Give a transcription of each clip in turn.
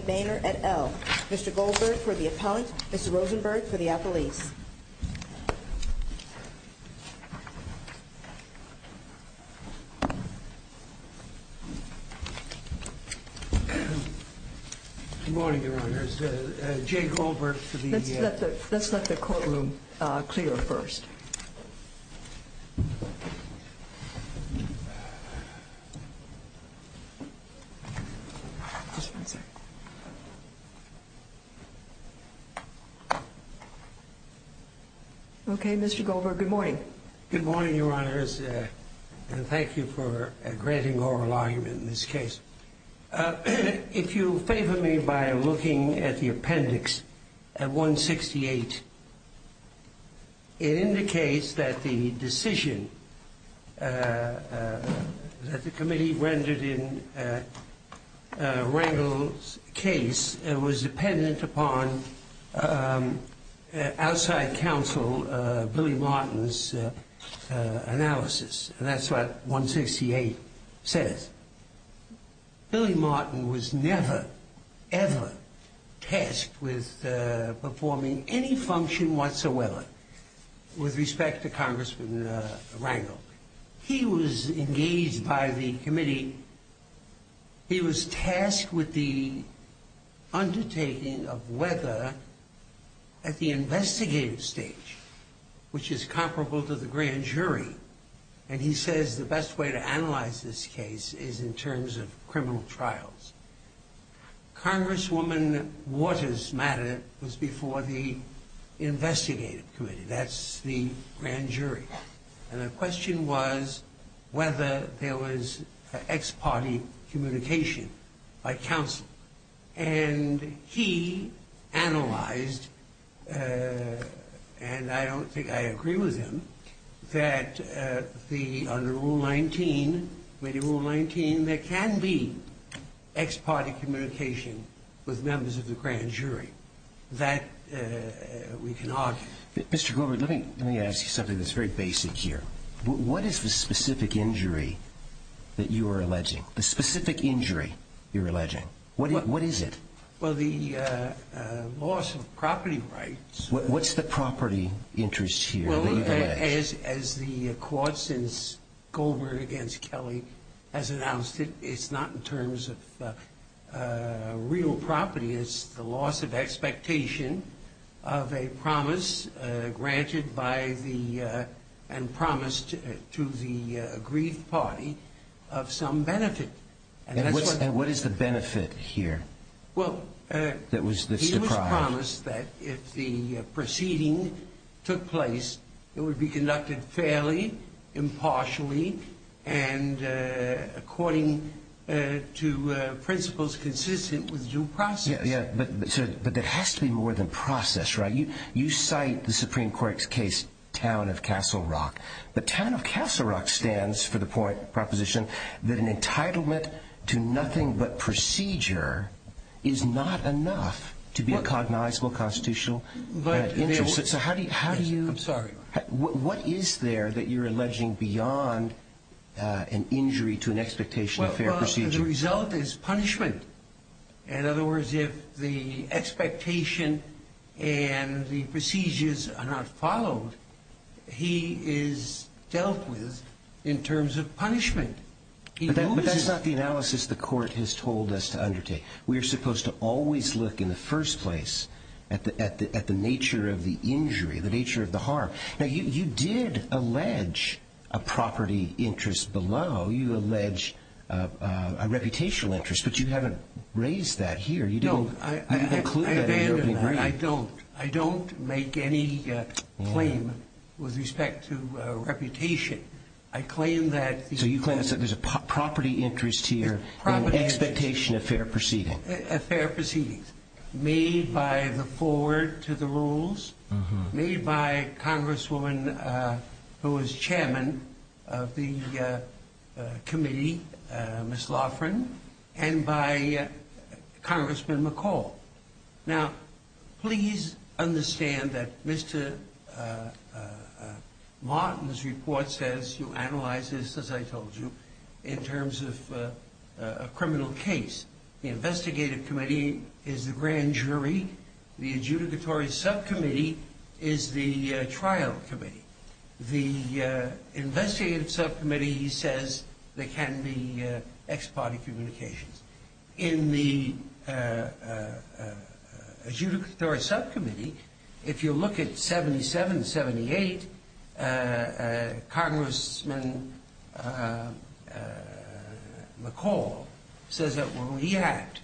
et al. Mr. Goldberg for the appellant, Mr. Rosenberg for the appellees. Good morning, Your Honors. Jay Goldberg for the... Okay, Mr. Goldberg, good morning. Good morning, Your Honors, and thank you for granting oral argument in this case. If you'll favor me by looking at the appendix 168, it indicates that the decision that the committee rendered in Rangel's case was dependent upon outside counsel Billy Martin's analysis, and that's what 168 says. Billy Martin was never, ever tasked with performing any function whatsoever with respect to Congressman Rangel. He was engaged by the committee. He was tasked with the undertaking of weather at the investigative stage, which is comparable to the grand jury, and he says the best way to analyze this case is in terms of criminal trials. Congresswoman Waters' matter was before the investigative committee. That's the grand jury. And the question was whether there was ex parte communication by counsel, and he analyzed, and I don't think I agree with him, that under Rule 19, maybe Rule 19, there can be ex parte communication with members of the grand jury. That we can argue. Mr. Goldberg, let me ask you something that's very basic here. What is the specific injury that you are alleging? The specific injury you're alleging, what is it? Well, the loss of property rights. What's the property interest here that you've alleged? As the court, since Goldberg against Kelly has announced it, it's not in terms of real property. It's the loss of expectation of a promise granted by the, and promised to the agreed party, of some benefit. And what is the benefit here that was the surprise? The promise that if the proceeding took place, it would be conducted fairly, impartially, and according to principles consistent with due process. But that has to be more than process, right? You cite the Supreme Court's case, Town of Castle Rock. But Town of Castle Rock stands for the proposition that an entitlement to nothing but procedure is not enough to be a cognizable constitutional interest. So how do you... I'm sorry. What is there that you're alleging beyond an injury to an expectation of fair procedure? Well, the result is punishment. In other words, if the expectation and the procedures are not followed, he is dealt with in terms of punishment. But that's not the analysis the court has told us to undertake. We are supposed to always look in the first place at the nature of the injury, the nature of the harm. Now, you did allege a property interest below. You allege a reputational interest. But you haven't raised that here. No, I abandon that. I don't. I don't make any claim with respect to reputation. I claim that... So you claim that there's a property interest here and an expectation of fair proceeding. A fair proceeding made by the forward to the rules, made by Congresswoman who is chairman of the committee, Ms. Loughran, and by Congressman McCall. Now, please understand that Mr. Martin's report says you analyze this, as I told you, in terms of a criminal case. The investigative committee is the grand jury. The adjudicatory subcommittee is the trial committee. The investigative subcommittee, he says, they can be ex parte communications. In the adjudicatory subcommittee, if you look at 77 and 78, Congressman McCall says that when we act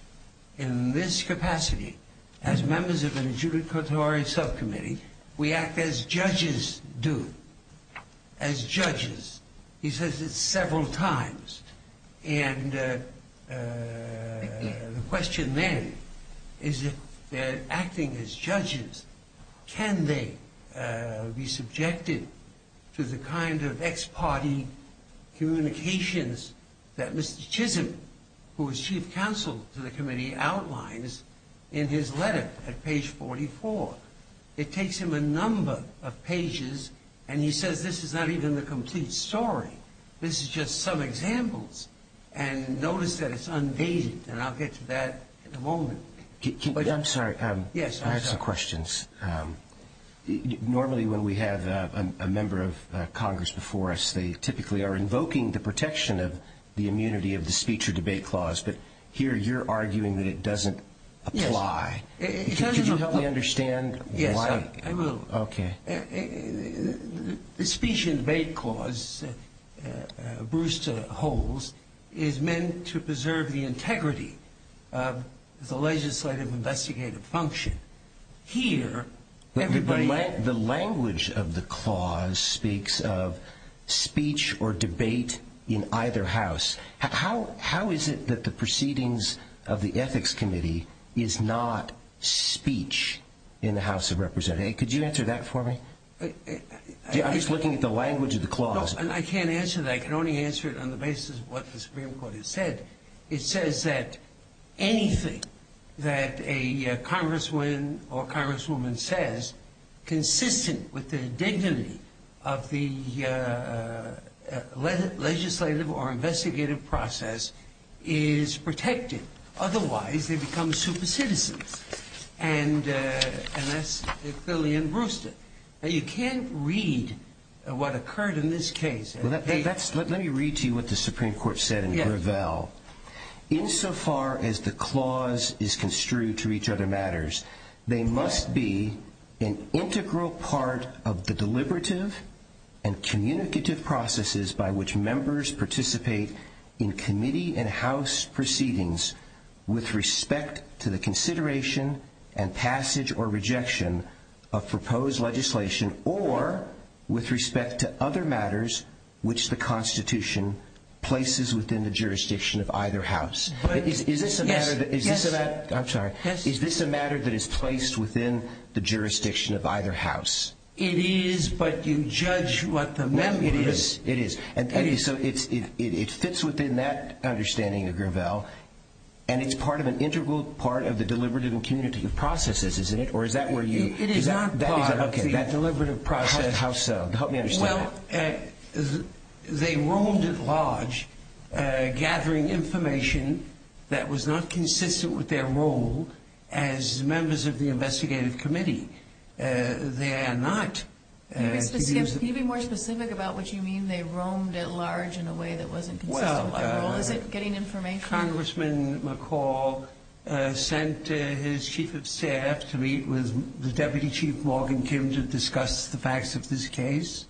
in this capacity as members of an adjudicatory subcommittee, we act as judges do. As judges. He says this several times. And the question then is that acting as judges, can they be subjected to the kind of ex parte communications that Mr. Chisholm, who is chief counsel to the committee, outlines in his letter at page 44. It takes him a number of pages, and he says this is not even the complete story. This is just some examples. And notice that it's undated, and I'll get to that in a moment. I'm sorry. I have some questions. Normally when we have a member of Congress before us, they typically are invoking the protection of the immunity of the speech or debate clause. But here you're arguing that it doesn't apply. Could you help me understand why? I will. Okay. The speech and debate clause, Bruce holds, is meant to preserve the integrity of the legislative investigative function. Here, everybody... Could you answer that for me? I'm just looking at the language of the clause. I can't answer that. I can only answer it on the basis of what the Supreme Court has said. It says that anything that a congressman or congresswoman says, consistent with the dignity of the legislative or investigative process, is protected. Otherwise, they become super citizens. And that's clearly in Brewster. You can't read what occurred in this case. Let me read to you what the Supreme Court said in Gravel. Insofar as the clause is construed to reach other matters, they must be an integral part of the deliberative and communicative processes by which members participate in committee and House proceedings with respect to the consideration and passage or rejection of proposed legislation or with respect to other matters which the Constitution places within the jurisdiction of either House. Is this a matter that is placed within the jurisdiction of either House? It is, but you judge what the member is. It fits within that understanding of Gravel, and it's part of an integral part of the deliberative and communicative processes, isn't it? It is not part of the deliberative process. How so? Help me understand that. They roamed at large gathering information that was not consistent with their role as members of the investigative committee. Can you be more specific about what you mean, they roamed at large in a way that wasn't consistent with their role? Is it getting information? Congressman McCaul sent his chief of staff to meet with Deputy Chief Morgan Kim to discuss the facts of this case.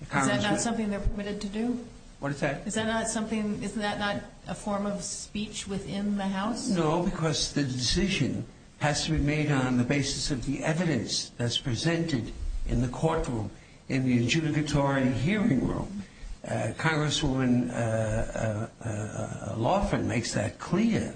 Is that not something they're permitted to do? What is that? Isn't that not a form of speech within the House? No, because the decision has to be made on the basis of the evidence that's presented in the courtroom, in the adjudicatory hearing room. Congresswoman Laughlin makes that clear.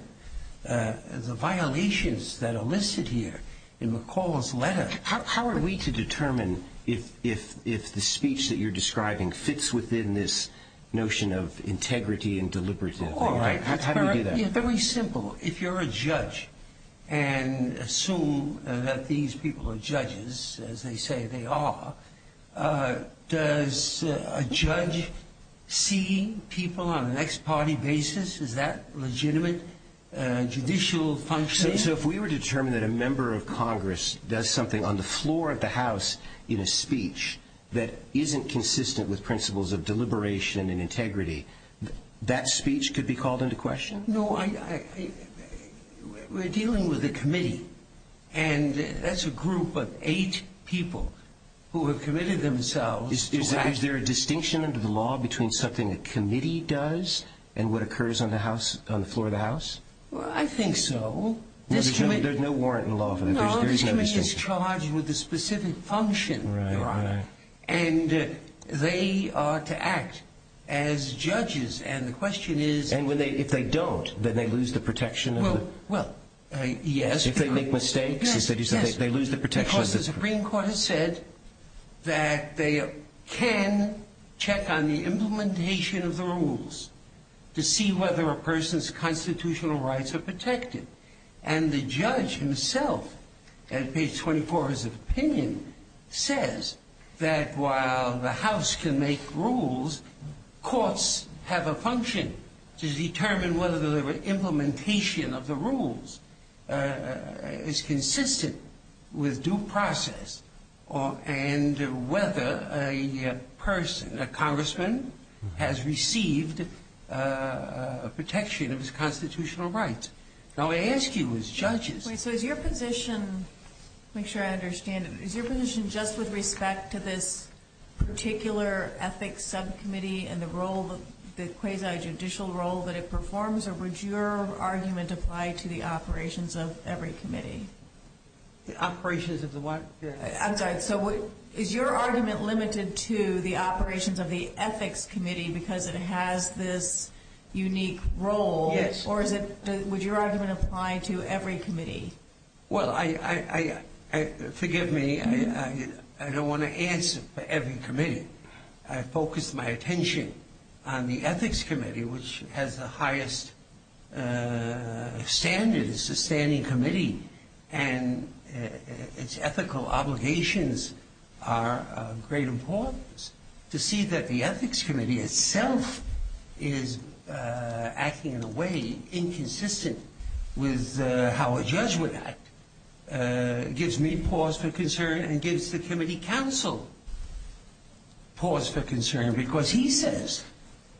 The violations that are listed here in McCaul's letter... How are we to determine if the speech that you're describing fits within this notion of integrity and deliberative? All right. How do we do that? Very simple. If you're a judge and assume that these people are judges, as they say they are, does a judge see people on an ex parte basis? Is that legitimate judicial function? So if we were determined that a member of Congress does something on the floor of the House in a speech that isn't consistent with principles of deliberation and integrity, that speech could be called into question? No, we're dealing with a committee, and that's a group of eight people who have committed themselves... Is there a distinction under the law between something a committee does and what occurs on the floor of the House? I think so. There's no warrant in law for that. The law is charged with a specific function, Your Honor, and they are to act as judges. And the question is... And if they don't, then they lose the protection of the... Well, yes. If they make mistakes, they lose the protection of the... Because the Supreme Court has said that they can check on the implementation of the rules to see whether a person's constitutional rights are protected. And the judge himself, at page 24 of his opinion, says that while the House can make rules, courts have a function to determine whether the implementation of the rules is consistent with due process and whether a person, a congressman, has received protection of his constitutional rights. Now, I ask you as judges... Wait. So is your position... Make sure I understand it. Is your position just with respect to this particular ethics subcommittee and the role, the quasi-judicial role that it performs, or would your argument apply to the operations of every committee? The operations of the what? I'm sorry. So is your argument limited to the operations of the ethics committee because it has this unique role? Yes. Or would your argument apply to every committee? Well, forgive me. I don't want to answer for every committee. I focused my attention on the ethics committee, which has the highest standards, a standing committee, and its ethical obligations are of great importance. To see that the ethics committee itself is acting in a way inconsistent with how a judge would act gives me pause for concern and gives the committee counsel pause for concern. Because he says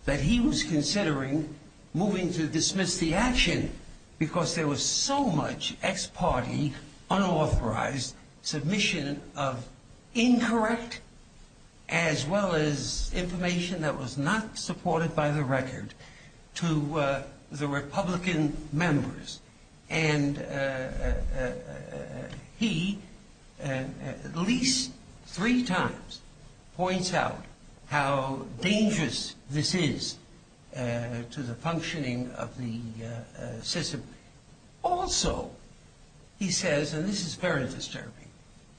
that he was considering moving to dismiss the action because there was so much ex-party, unauthorized submission of incorrect as well as information that was not supported by the record to the Republican members. And he, at least three times, points out how dangerous this is to the functioning of the system. Also, he says, and this is very disturbing,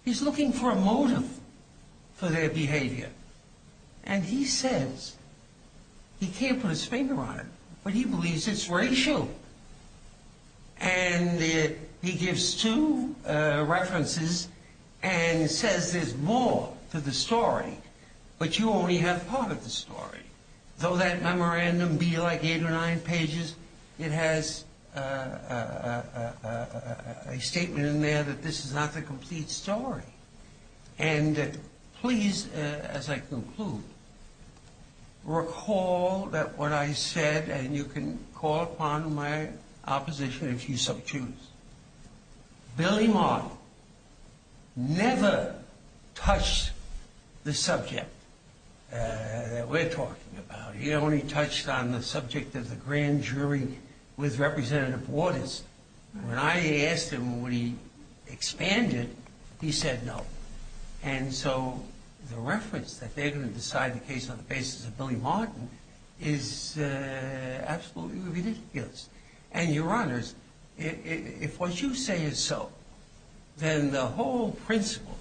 he's looking for a motive for their behavior. And he says he can't put his finger on it, but he believes it's racial. And he gives two references and says there's more to the story, but you only have part of the story. Though that memorandum be like eight or nine pages, it has a statement in there that this is not the complete story. And please, as I conclude, recall that what I said, and you can call upon my opposition if you so choose. Billy Martin never touched the subject that we're talking about. He only touched on the subject of the grand jury with Representative Waters. When I asked him would he expand it, he said no. And so the reference that they're going to decide the case on the basis of Billy Martin is absolutely ridiculous. And, Your Honors, if what you say is so, then the whole principle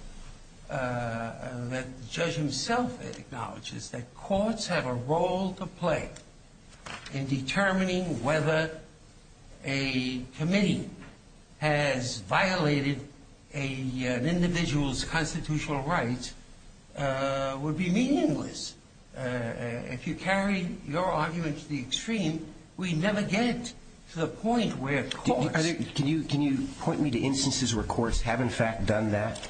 that the judge himself acknowledges, that courts have a role to play in determining whether a committee has violated an individual's constitutional rights, would be meaningless. If you carry your argument to the extreme, we never get to the point where courts... Can you point me to instances where courts have in fact done that?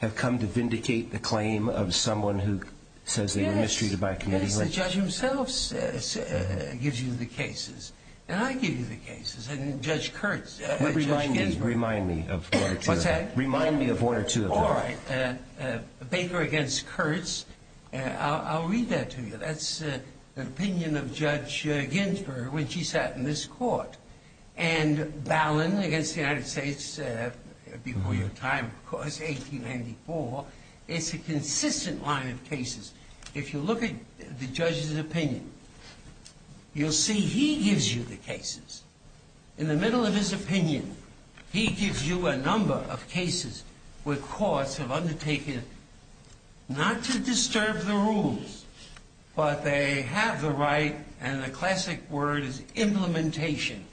Have come to vindicate the claim of someone who says they were mistreated by a committee? Yes, the judge himself gives you the cases. And I give you the cases. And Judge Kurtz... Remind me of one or two of them. What's that? Remind me of one or two of them. All right. Baker against Kurtz. I'll read that to you. That's the opinion of Judge Ginsberg when she sat in this court. And Ballin against the United States before your time, of course, 1894. It's a consistent line of cases. If you look at the judge's opinion, you'll see he gives you the cases. In the middle of his opinion, he gives you a number of cases where courts have undertaken not to disturb the rules, but they have the right, and the classic word is implementation.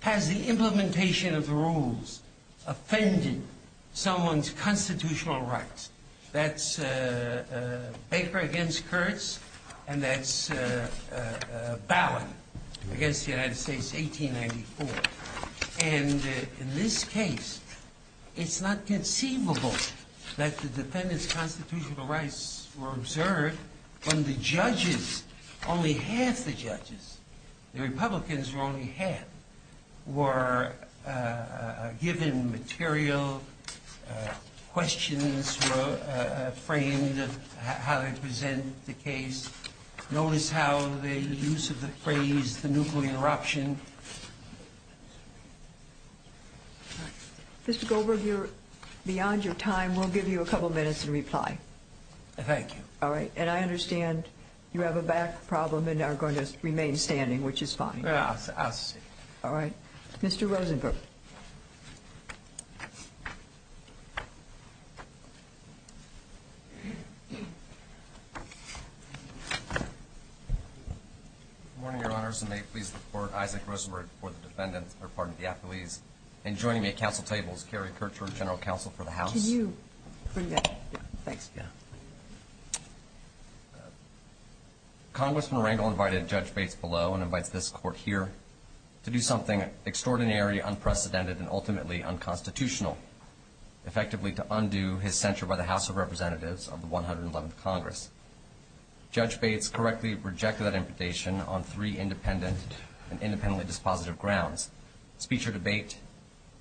Has the implementation of the rules offended someone's constitutional rights? That's Baker against Kurtz, and that's Ballin against the United States, 1894. And in this case, it's not conceivable that the defendant's constitutional rights were observed when the judges, Only half the judges, the Republicans were only half, were given material. Questions were framed how to present the case. Notice how the use of the phrase, the nuclear option. Mr. Goldberg, beyond your time, we'll give you a couple minutes to reply. Thank you. All right. And I understand you have a back problem and are going to remain standing, which is fine. I'll see. All right. Mr. Rosenberg. Good morning, Your Honors. I may please report Isaac Rosenberg for the defendant, or pardon me, the affilees. And joining me at council table is Carrie Kirchherr, general counsel for the House. Can you bring that? Thanks. Yeah. Congressman Rangel invited Judge Bates below and invites this court here to do something extraordinary, unprecedented, and ultimately unconstitutional, effectively to undo his censure by the House of Representatives of the 111th Congress. Judge Bates correctly rejected that imputation on three independent and independently dispositive grounds, speech or debate,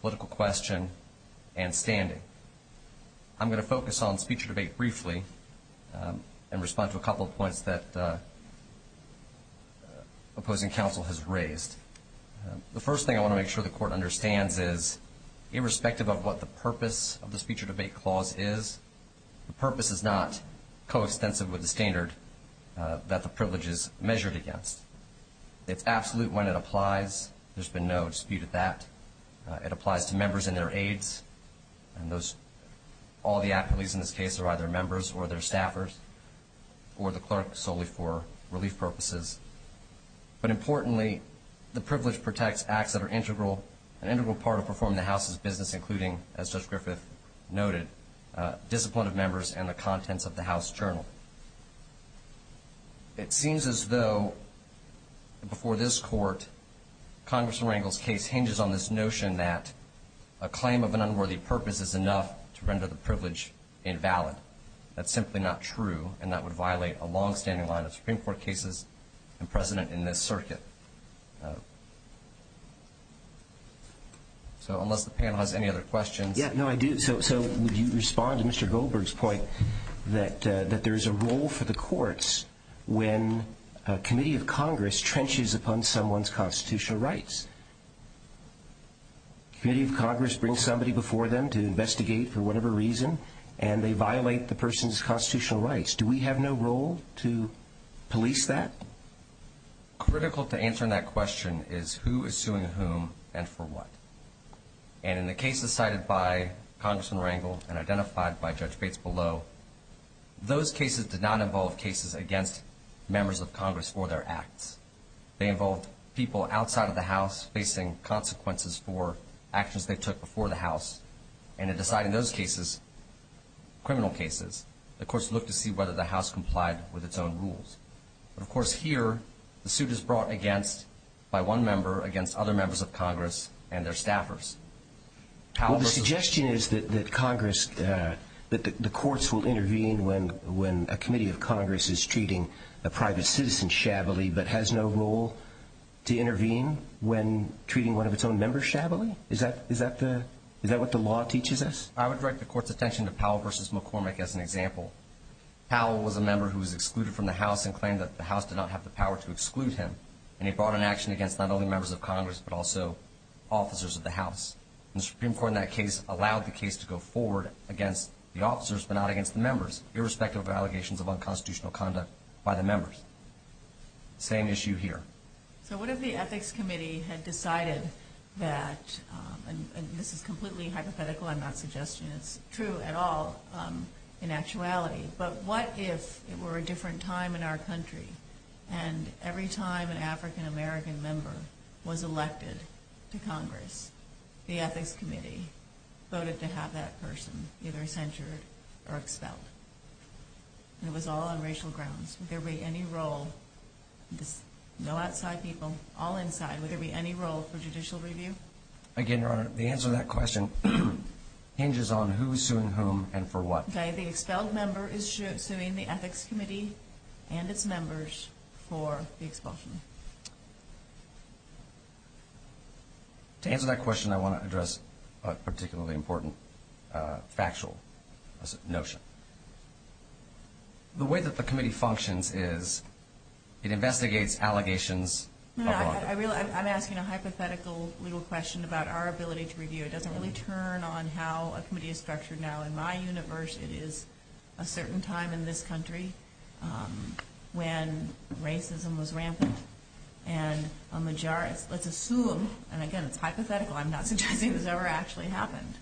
political question, and standing. I'm going to focus on speech or debate briefly and respond to a couple of points that opposing counsel has raised. The first thing I want to make sure the court understands is, irrespective of what the purpose of the speech or debate clause is, the purpose is not coextensive with the standard that the privilege is measured against. It's absolute when it applies. There's been no dispute of that. It applies to members and their aides, and all the affilees in this case are either members or their staffers or the clerk solely for relief purposes. But importantly, the privilege protects acts that are an integral part of performing the House's business, including, as Judge Griffith noted, discipline of members and the contents of the House journal. It seems as though, before this court, Congressman Rangel's case hinges on this notion that a claim of an unworthy purpose is enough to render the privilege invalid. That's simply not true, and that would violate a longstanding line of Supreme Court cases and precedent in this circuit. So unless the panel has any other questions. Yeah, no, I do. So would you respond to Mr. Goldberg's point that there's a role for the courts when a committee of Congress trenches upon someone's constitutional rights? Committee of Congress brings somebody before them to investigate for whatever reason, and they violate the person's constitutional rights. Do we have no role to police that? Critical to answering that question is who is suing whom and for what. And in the cases cited by Congressman Rangel and identified by Judge Bates below, those cases did not involve cases against members of Congress for their acts. They involved people outside of the House facing consequences for actions they took before the House, and in deciding those cases, criminal cases, the courts looked to see whether the House complied with its own rules. Of course, here the suit is brought against by one member against other members of Congress and their staffers. Well, the suggestion is that Congress, that the courts will intervene when a committee of Congress is treating a private citizen shabbily but has no role to intervene when treating one of its own members shabbily? Is that what the law teaches us? I would write the court's attention to Powell v. McCormick as an example. Powell was a member who was excluded from the House and claimed that the House did not have the power to exclude him, and he brought an action against not only members of Congress but also officers of the House. And the Supreme Court in that case allowed the case to go forward against the officers but not against the members, irrespective of allegations of unconstitutional conduct by the members. Same issue here. So what if the Ethics Committee had decided that, and this is completely hypothetical, I'm not suggesting it's true at all, in actuality, but what if it were a different time in our country and every time an African American member was elected to Congress, the Ethics Committee voted to have that person either censured or expelled? And it was all on racial grounds. Would there be any role, no outside people, all inside, would there be any role for judicial review? Again, Your Honor, the answer to that question hinges on who's suing whom and for what. Okay. The expelled member is suing the Ethics Committee and its members for the expulsion. To answer that question, I want to address a particularly important factual notion. The way that the committee functions is it investigates allegations of wrongdoing. I'm asking a hypothetical little question about our ability to review. It doesn't really turn on how a committee is structured now. In my universe, it is a certain time in this country when racism was rampant and a majority, let's assume, and again it's hypothetical, I'm not suggesting this ever actually happened,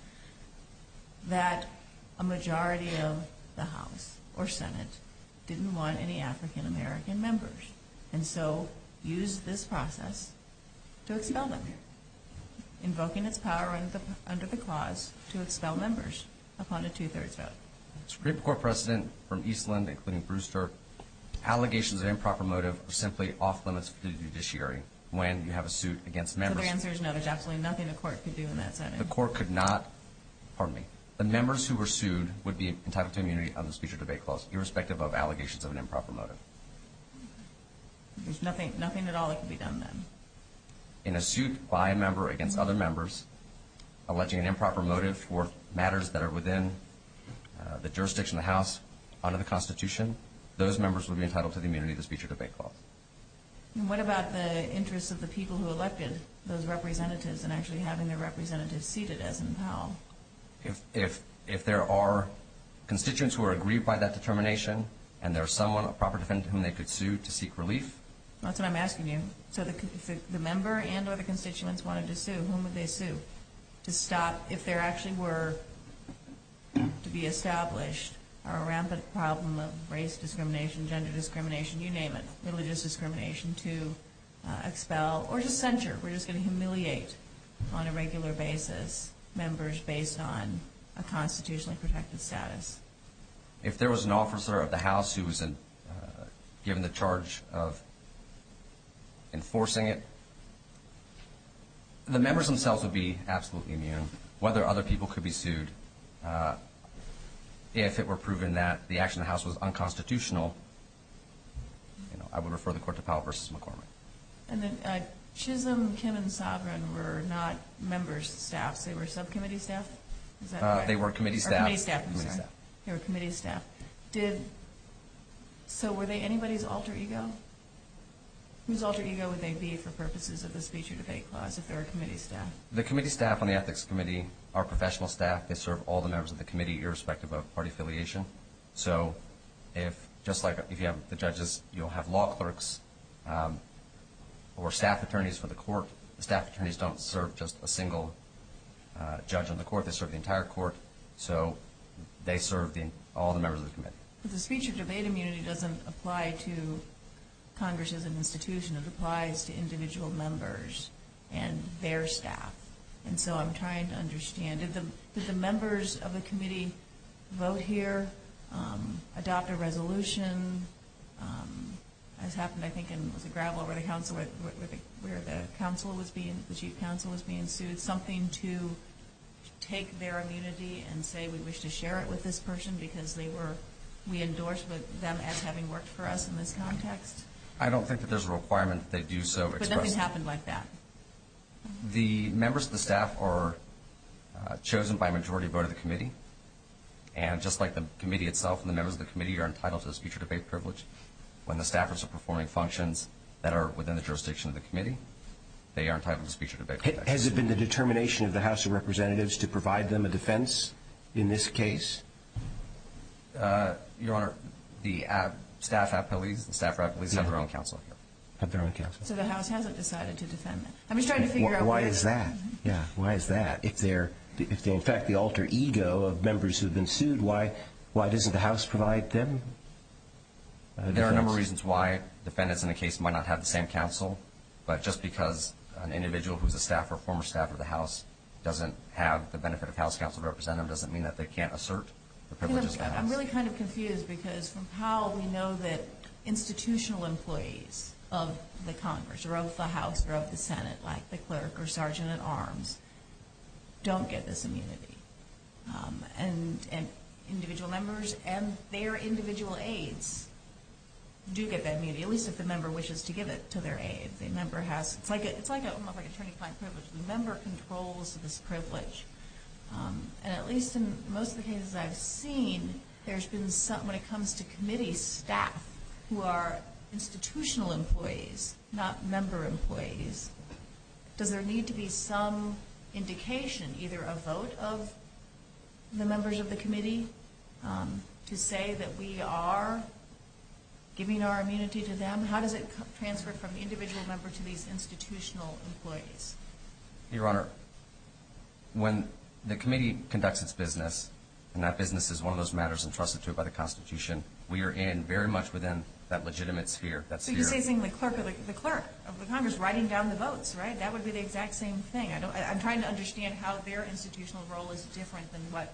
that a majority of the House or Senate didn't want any African American members and so used this process to expel them, invoking its power under the clause to expel members upon a two-thirds vote. Supreme Court precedent from Eastland, including Brewster, allegations of improper motive are simply off-limits for the judiciary when you have a suit against members. So the answer is no, there's absolutely nothing a court could do in that setting. The court could not, pardon me, the members who were sued would be entitled to immunity irrespective of allegations of an improper motive. There's nothing at all that could be done then? In a suit by a member against other members, alleging an improper motive for matters that are within the jurisdiction of the House under the Constitution, those members would be entitled to the immunity of the speech or debate clause. And what about the interests of the people who elected those representatives and actually having their representatives seated as in Powell? If there are constituents who are aggrieved by that determination and there's someone, a proper defendant, whom they could sue to seek relief? That's what I'm asking you. So if the member and other constituents wanted to sue, whom would they sue to stop, if there actually were to be established a rampant problem of race discrimination, gender discrimination, you name it, religious discrimination, to expel or to censure. We're just going to humiliate on a regular basis members based on a constitutionally protected status. If there was an officer of the House who was given the charge of enforcing it, the members themselves would be absolutely immune. Whether other people could be sued, if it were proven that the action of the House was unconstitutional, And Chisholm, Kim, and Sovrin were not members' staffs. They were subcommittee staff? They were committee staff. They were committee staff. So were they anybody's alter ego? Whose alter ego would they be for purposes of the speech or debate clause if they were committee staff? The committee staff on the Ethics Committee are professional staff. They serve all the members of the committee irrespective of party affiliation. So just like if you have the judges, you'll have law clerks or staff attorneys for the court. The staff attorneys don't serve just a single judge on the court. They serve the entire court. So they serve all the members of the committee. But the speech or debate immunity doesn't apply to Congress as an institution. It applies to individual members and their staff. And so I'm trying to understand, did the members of the committee vote here, adopt a resolution, as happened I think in the gravel where the chief counsel was being sued, something to take their immunity and say we wish to share it with this person because we endorsed them as having worked for us in this context? I don't think that there's a requirement that they do so expressly. But nothing happened like that? The members of the staff are chosen by majority vote of the committee. And just like the committee itself and the members of the committee are entitled to speech or debate privilege, when the staffers are performing functions that are within the jurisdiction of the committee, they are entitled to speech or debate privilege. Has it been the determination of the House of Representatives to provide them a defense in this case? Your Honor, the staff have police, the staff have police, have their own counsel. So the House hasn't decided to defend them. I'm just trying to figure out why. Why is that? Yeah, why is that? If they, in fact, alter ego of members who have been sued, why doesn't the House provide them defense? There are a number of reasons why defendants in a case might not have the same counsel. But just because an individual who is a staffer, a former staffer of the House, doesn't have the benefit of House counsel to represent them doesn't mean that they can't assert their privileges. I'm really kind of confused because from how we know that institutional employees of the Congress or of the House or of the Senate, like the clerk or sergeant-at-arms, don't get this immunity. And individual members and their individual aides do get that immunity, at least if the member wishes to give it to their aide. The member has, it's like an attorney-client privilege. The member controls this privilege. And at least in most of the cases I've seen, when it comes to committee staff who are institutional employees, not member employees, does there need to be some indication, either a vote of the members of the committee, to say that we are giving our immunity to them? How does it transfer from the individual member to these institutional employees? Your Honor, when the committee conducts its business, and that business is one of those matters entrusted to it by the Constitution, we are in very much within that legitimate sphere. But you're saying the clerk of the Congress writing down the votes, right? That would be the exact same thing. I'm trying to understand how their institutional role is different than what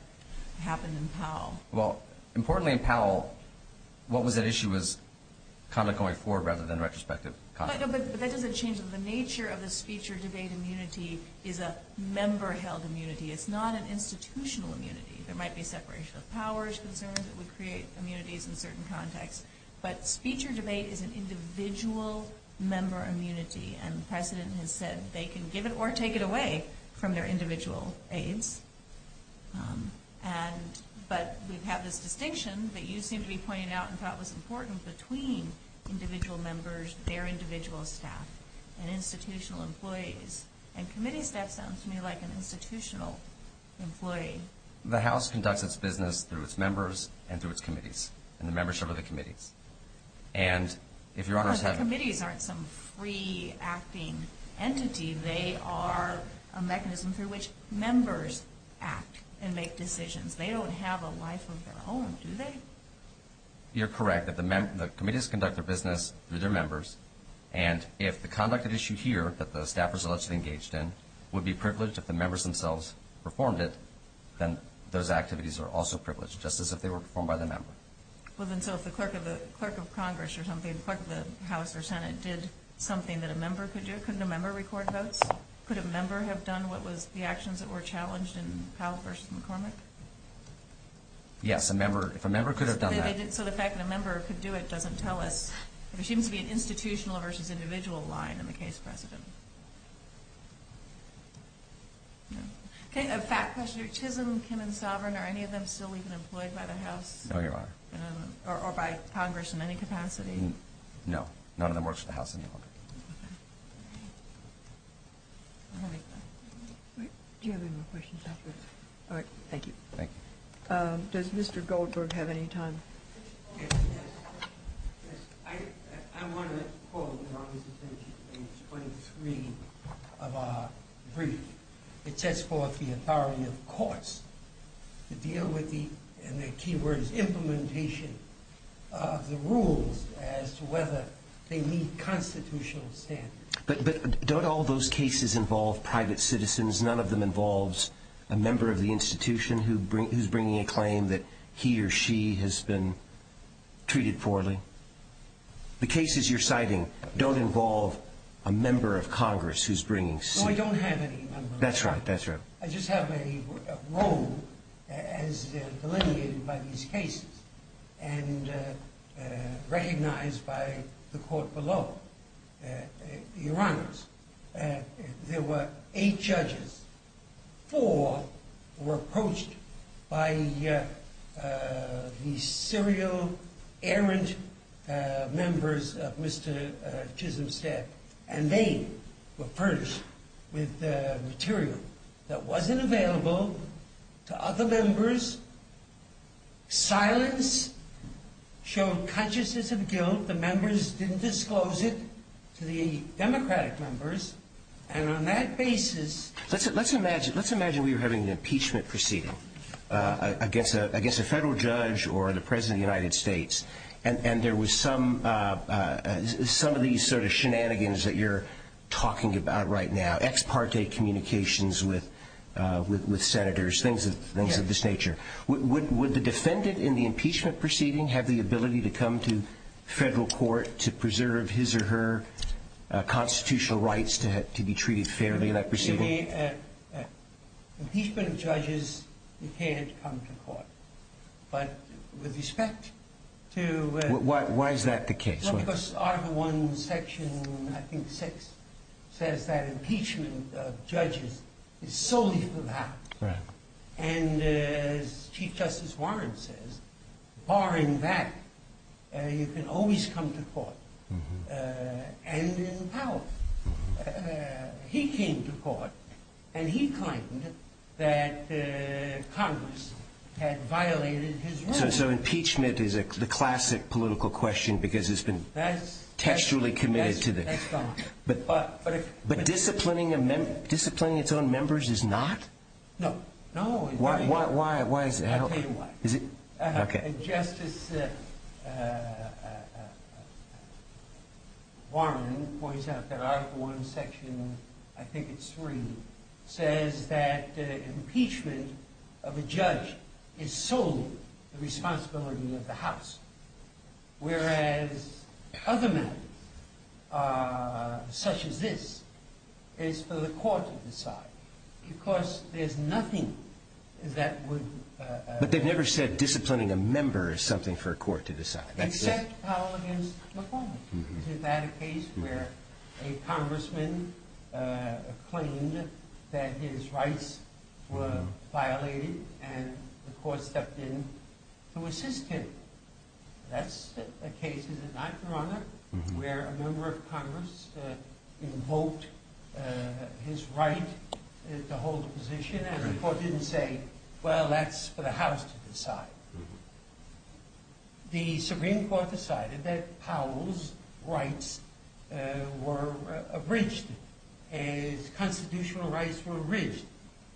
happened in Powell. Well, importantly in Powell, what was at issue was conduct going forward rather than retrospective conduct. No, but that doesn't change. The nature of the speech or debate immunity is a member-held immunity. It's not an institutional immunity. There might be separation of powers concerns that would create immunities in certain contexts. But speech or debate is an individual member immunity. And the President has said they can give it or take it away from their individual aides. But we have this distinction that you seem to be pointing out and thought was important between individual members, their individual staff, and institutional employees. And committees, that sounds to me like an institutional employee. The House conducts its business through its members and through its committees and the membership of the committees. And if Your Honor is having… But the committees aren't some free-acting entity. They are a mechanism through which members act and make decisions. They don't have a life of their own, do they? You're correct. The committees conduct their business through their members. And if the conduct at issue here that the staff was allegedly engaged in would be privileged if the members themselves performed it, then those activities are also privileged, just as if they were performed by the member. Well, then, so if the Clerk of Congress or something, the Clerk of the House or Senate, did something that a member could do, couldn't a member record votes? Could a member have done what was the actions that were challenged in Powell v. McCormick? Yes, if a member could have done that. So the fact that a member could do it doesn't tell us. There seems to be an institutional versus individual line in the case precedent. No. Okay, a fact question. Chisholm, Kim, and Sovereign, are any of them still even employed by the House? No, Your Honor. Or by Congress in any capacity? No. None of them works for the House anymore. Okay. Do you have any more questions about this? All right, thank you. Thank you. Does Mr. Goldberg have any time? Yes, I want to call Your Honor's attention to page 23 of our brief. It sets forth the authority of courts to deal with the, and the key word is implementation, of the rules as to whether they meet constitutional standards. But don't all those cases involve private citizens? None of them involves a member of the institution who's bringing a claim that he or she has been treated poorly? The cases you're citing don't involve a member of Congress who's bringing... No, I don't have any member of Congress. That's right, that's right. I just have a role as delineated by these cases and recognized by the court below. Your Honors, there were eight judges. Four were approached by the serial, errant members of Mr. Chisholm's staff, and they were furnished with material that wasn't available to other members. Silence showed consciousness of guilt. The members didn't disclose it to the Democratic members, and on that basis... Let's imagine we were having an impeachment proceeding against a federal judge or the President of the United States, and there was some of these sort of shenanigans that you're talking about right now, ex parte communications with senators, things of this nature. Would the defendant in the impeachment proceeding have the ability to come to federal court to preserve his or her constitutional rights to be treated fairly in that proceeding? Impeachment judges can't come to court. But with respect to... Why is that the case? Because Article 1, Section 6 says that impeachment of judges is solely for that. And as Chief Justice Warren says, barring that, you can always come to court and in power. He came to court, and he claimed that Congress had violated his rights. So impeachment is the classic political question because it's been textually committed to this. But disciplining its own members is not? No. Why? I'll tell you why. Justice Warren points out that Article 1, Section, I think it's 3, says that impeachment of a judge is solely the responsibility of the House, whereas other matters, such as this, is for the court to decide. Of course, there's nothing that would... But they've never said disciplining a member is something for a court to decide. Except Powell v. McClellan. Is that a case where a congressman claimed that his rights were violated, and the court stepped in to assist him? That's a case, is it not, Your Honor, where a member of Congress invoked his right to hold a position, and the court didn't say, well, that's for the House to decide. The Supreme Court decided that Powell's rights were abridged, his constitutional rights were abridged,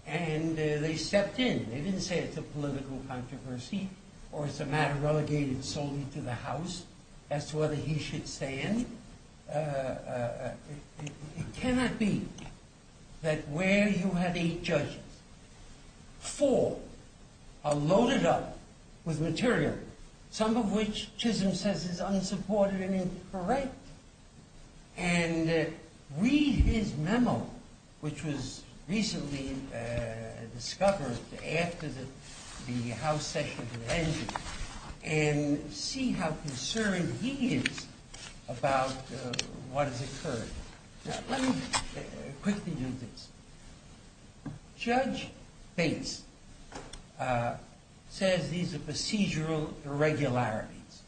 and they stepped in. They didn't say it's a political controversy, or it's a matter relegated solely to the House, as to whether he should stay in. It cannot be that where you have eight judges, four are loaded up with material, some of which Chisholm says is unsupported and incorrect, and read his memo, which was recently discovered after the House session had ended, and see how concerned he is about what has occurred. Now, let me quickly do this. Judge Bates says these are procedural irregularities.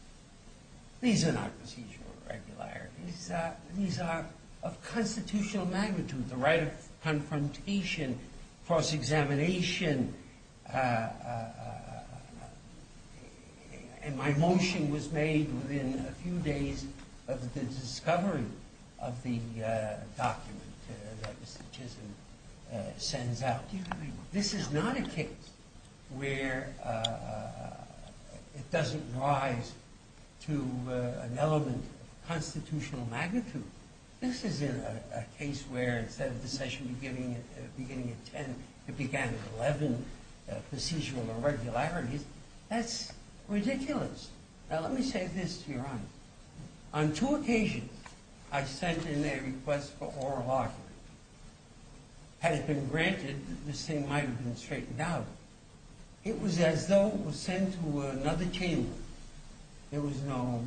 These are not procedural irregularities. These are of constitutional magnitude, the right of confrontation, cross-examination, and my motion was made within a few days of the discovery of the document that Mr. Chisholm sends out. This is not a case where it doesn't rise to an element of constitutional magnitude. This is a case where, instead of the session beginning at 10, it began at 11 procedural irregularities. That's ridiculous. Now, let me say this to your eyes. On two occasions, I sent in a request for oral argument. Had it been granted, this thing might have been straightened out. It was as though it was sent to another chamber. There was no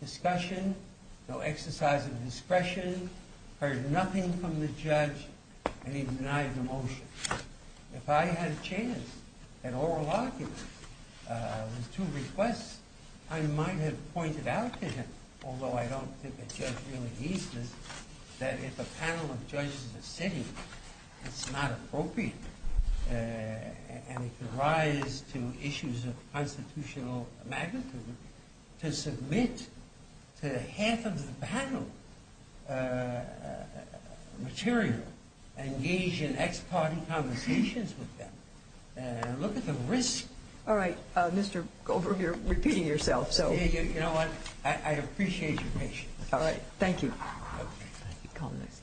discussion, no exercise of discretion, heard nothing from the judge, and he denied the motion. If I had a chance at oral argument with two requests, I might have pointed out to him, although I don't think a judge really needs this, that if a panel of judges is sitting, it's not appropriate, and it could rise to issues of constitutional magnitude to submit to half of the panel material, engage in ex-party conversations with them, and look at the risk. All right, Mr. Goldberg, you're repeating yourself. You know what? I appreciate your patience. All right. Thank you.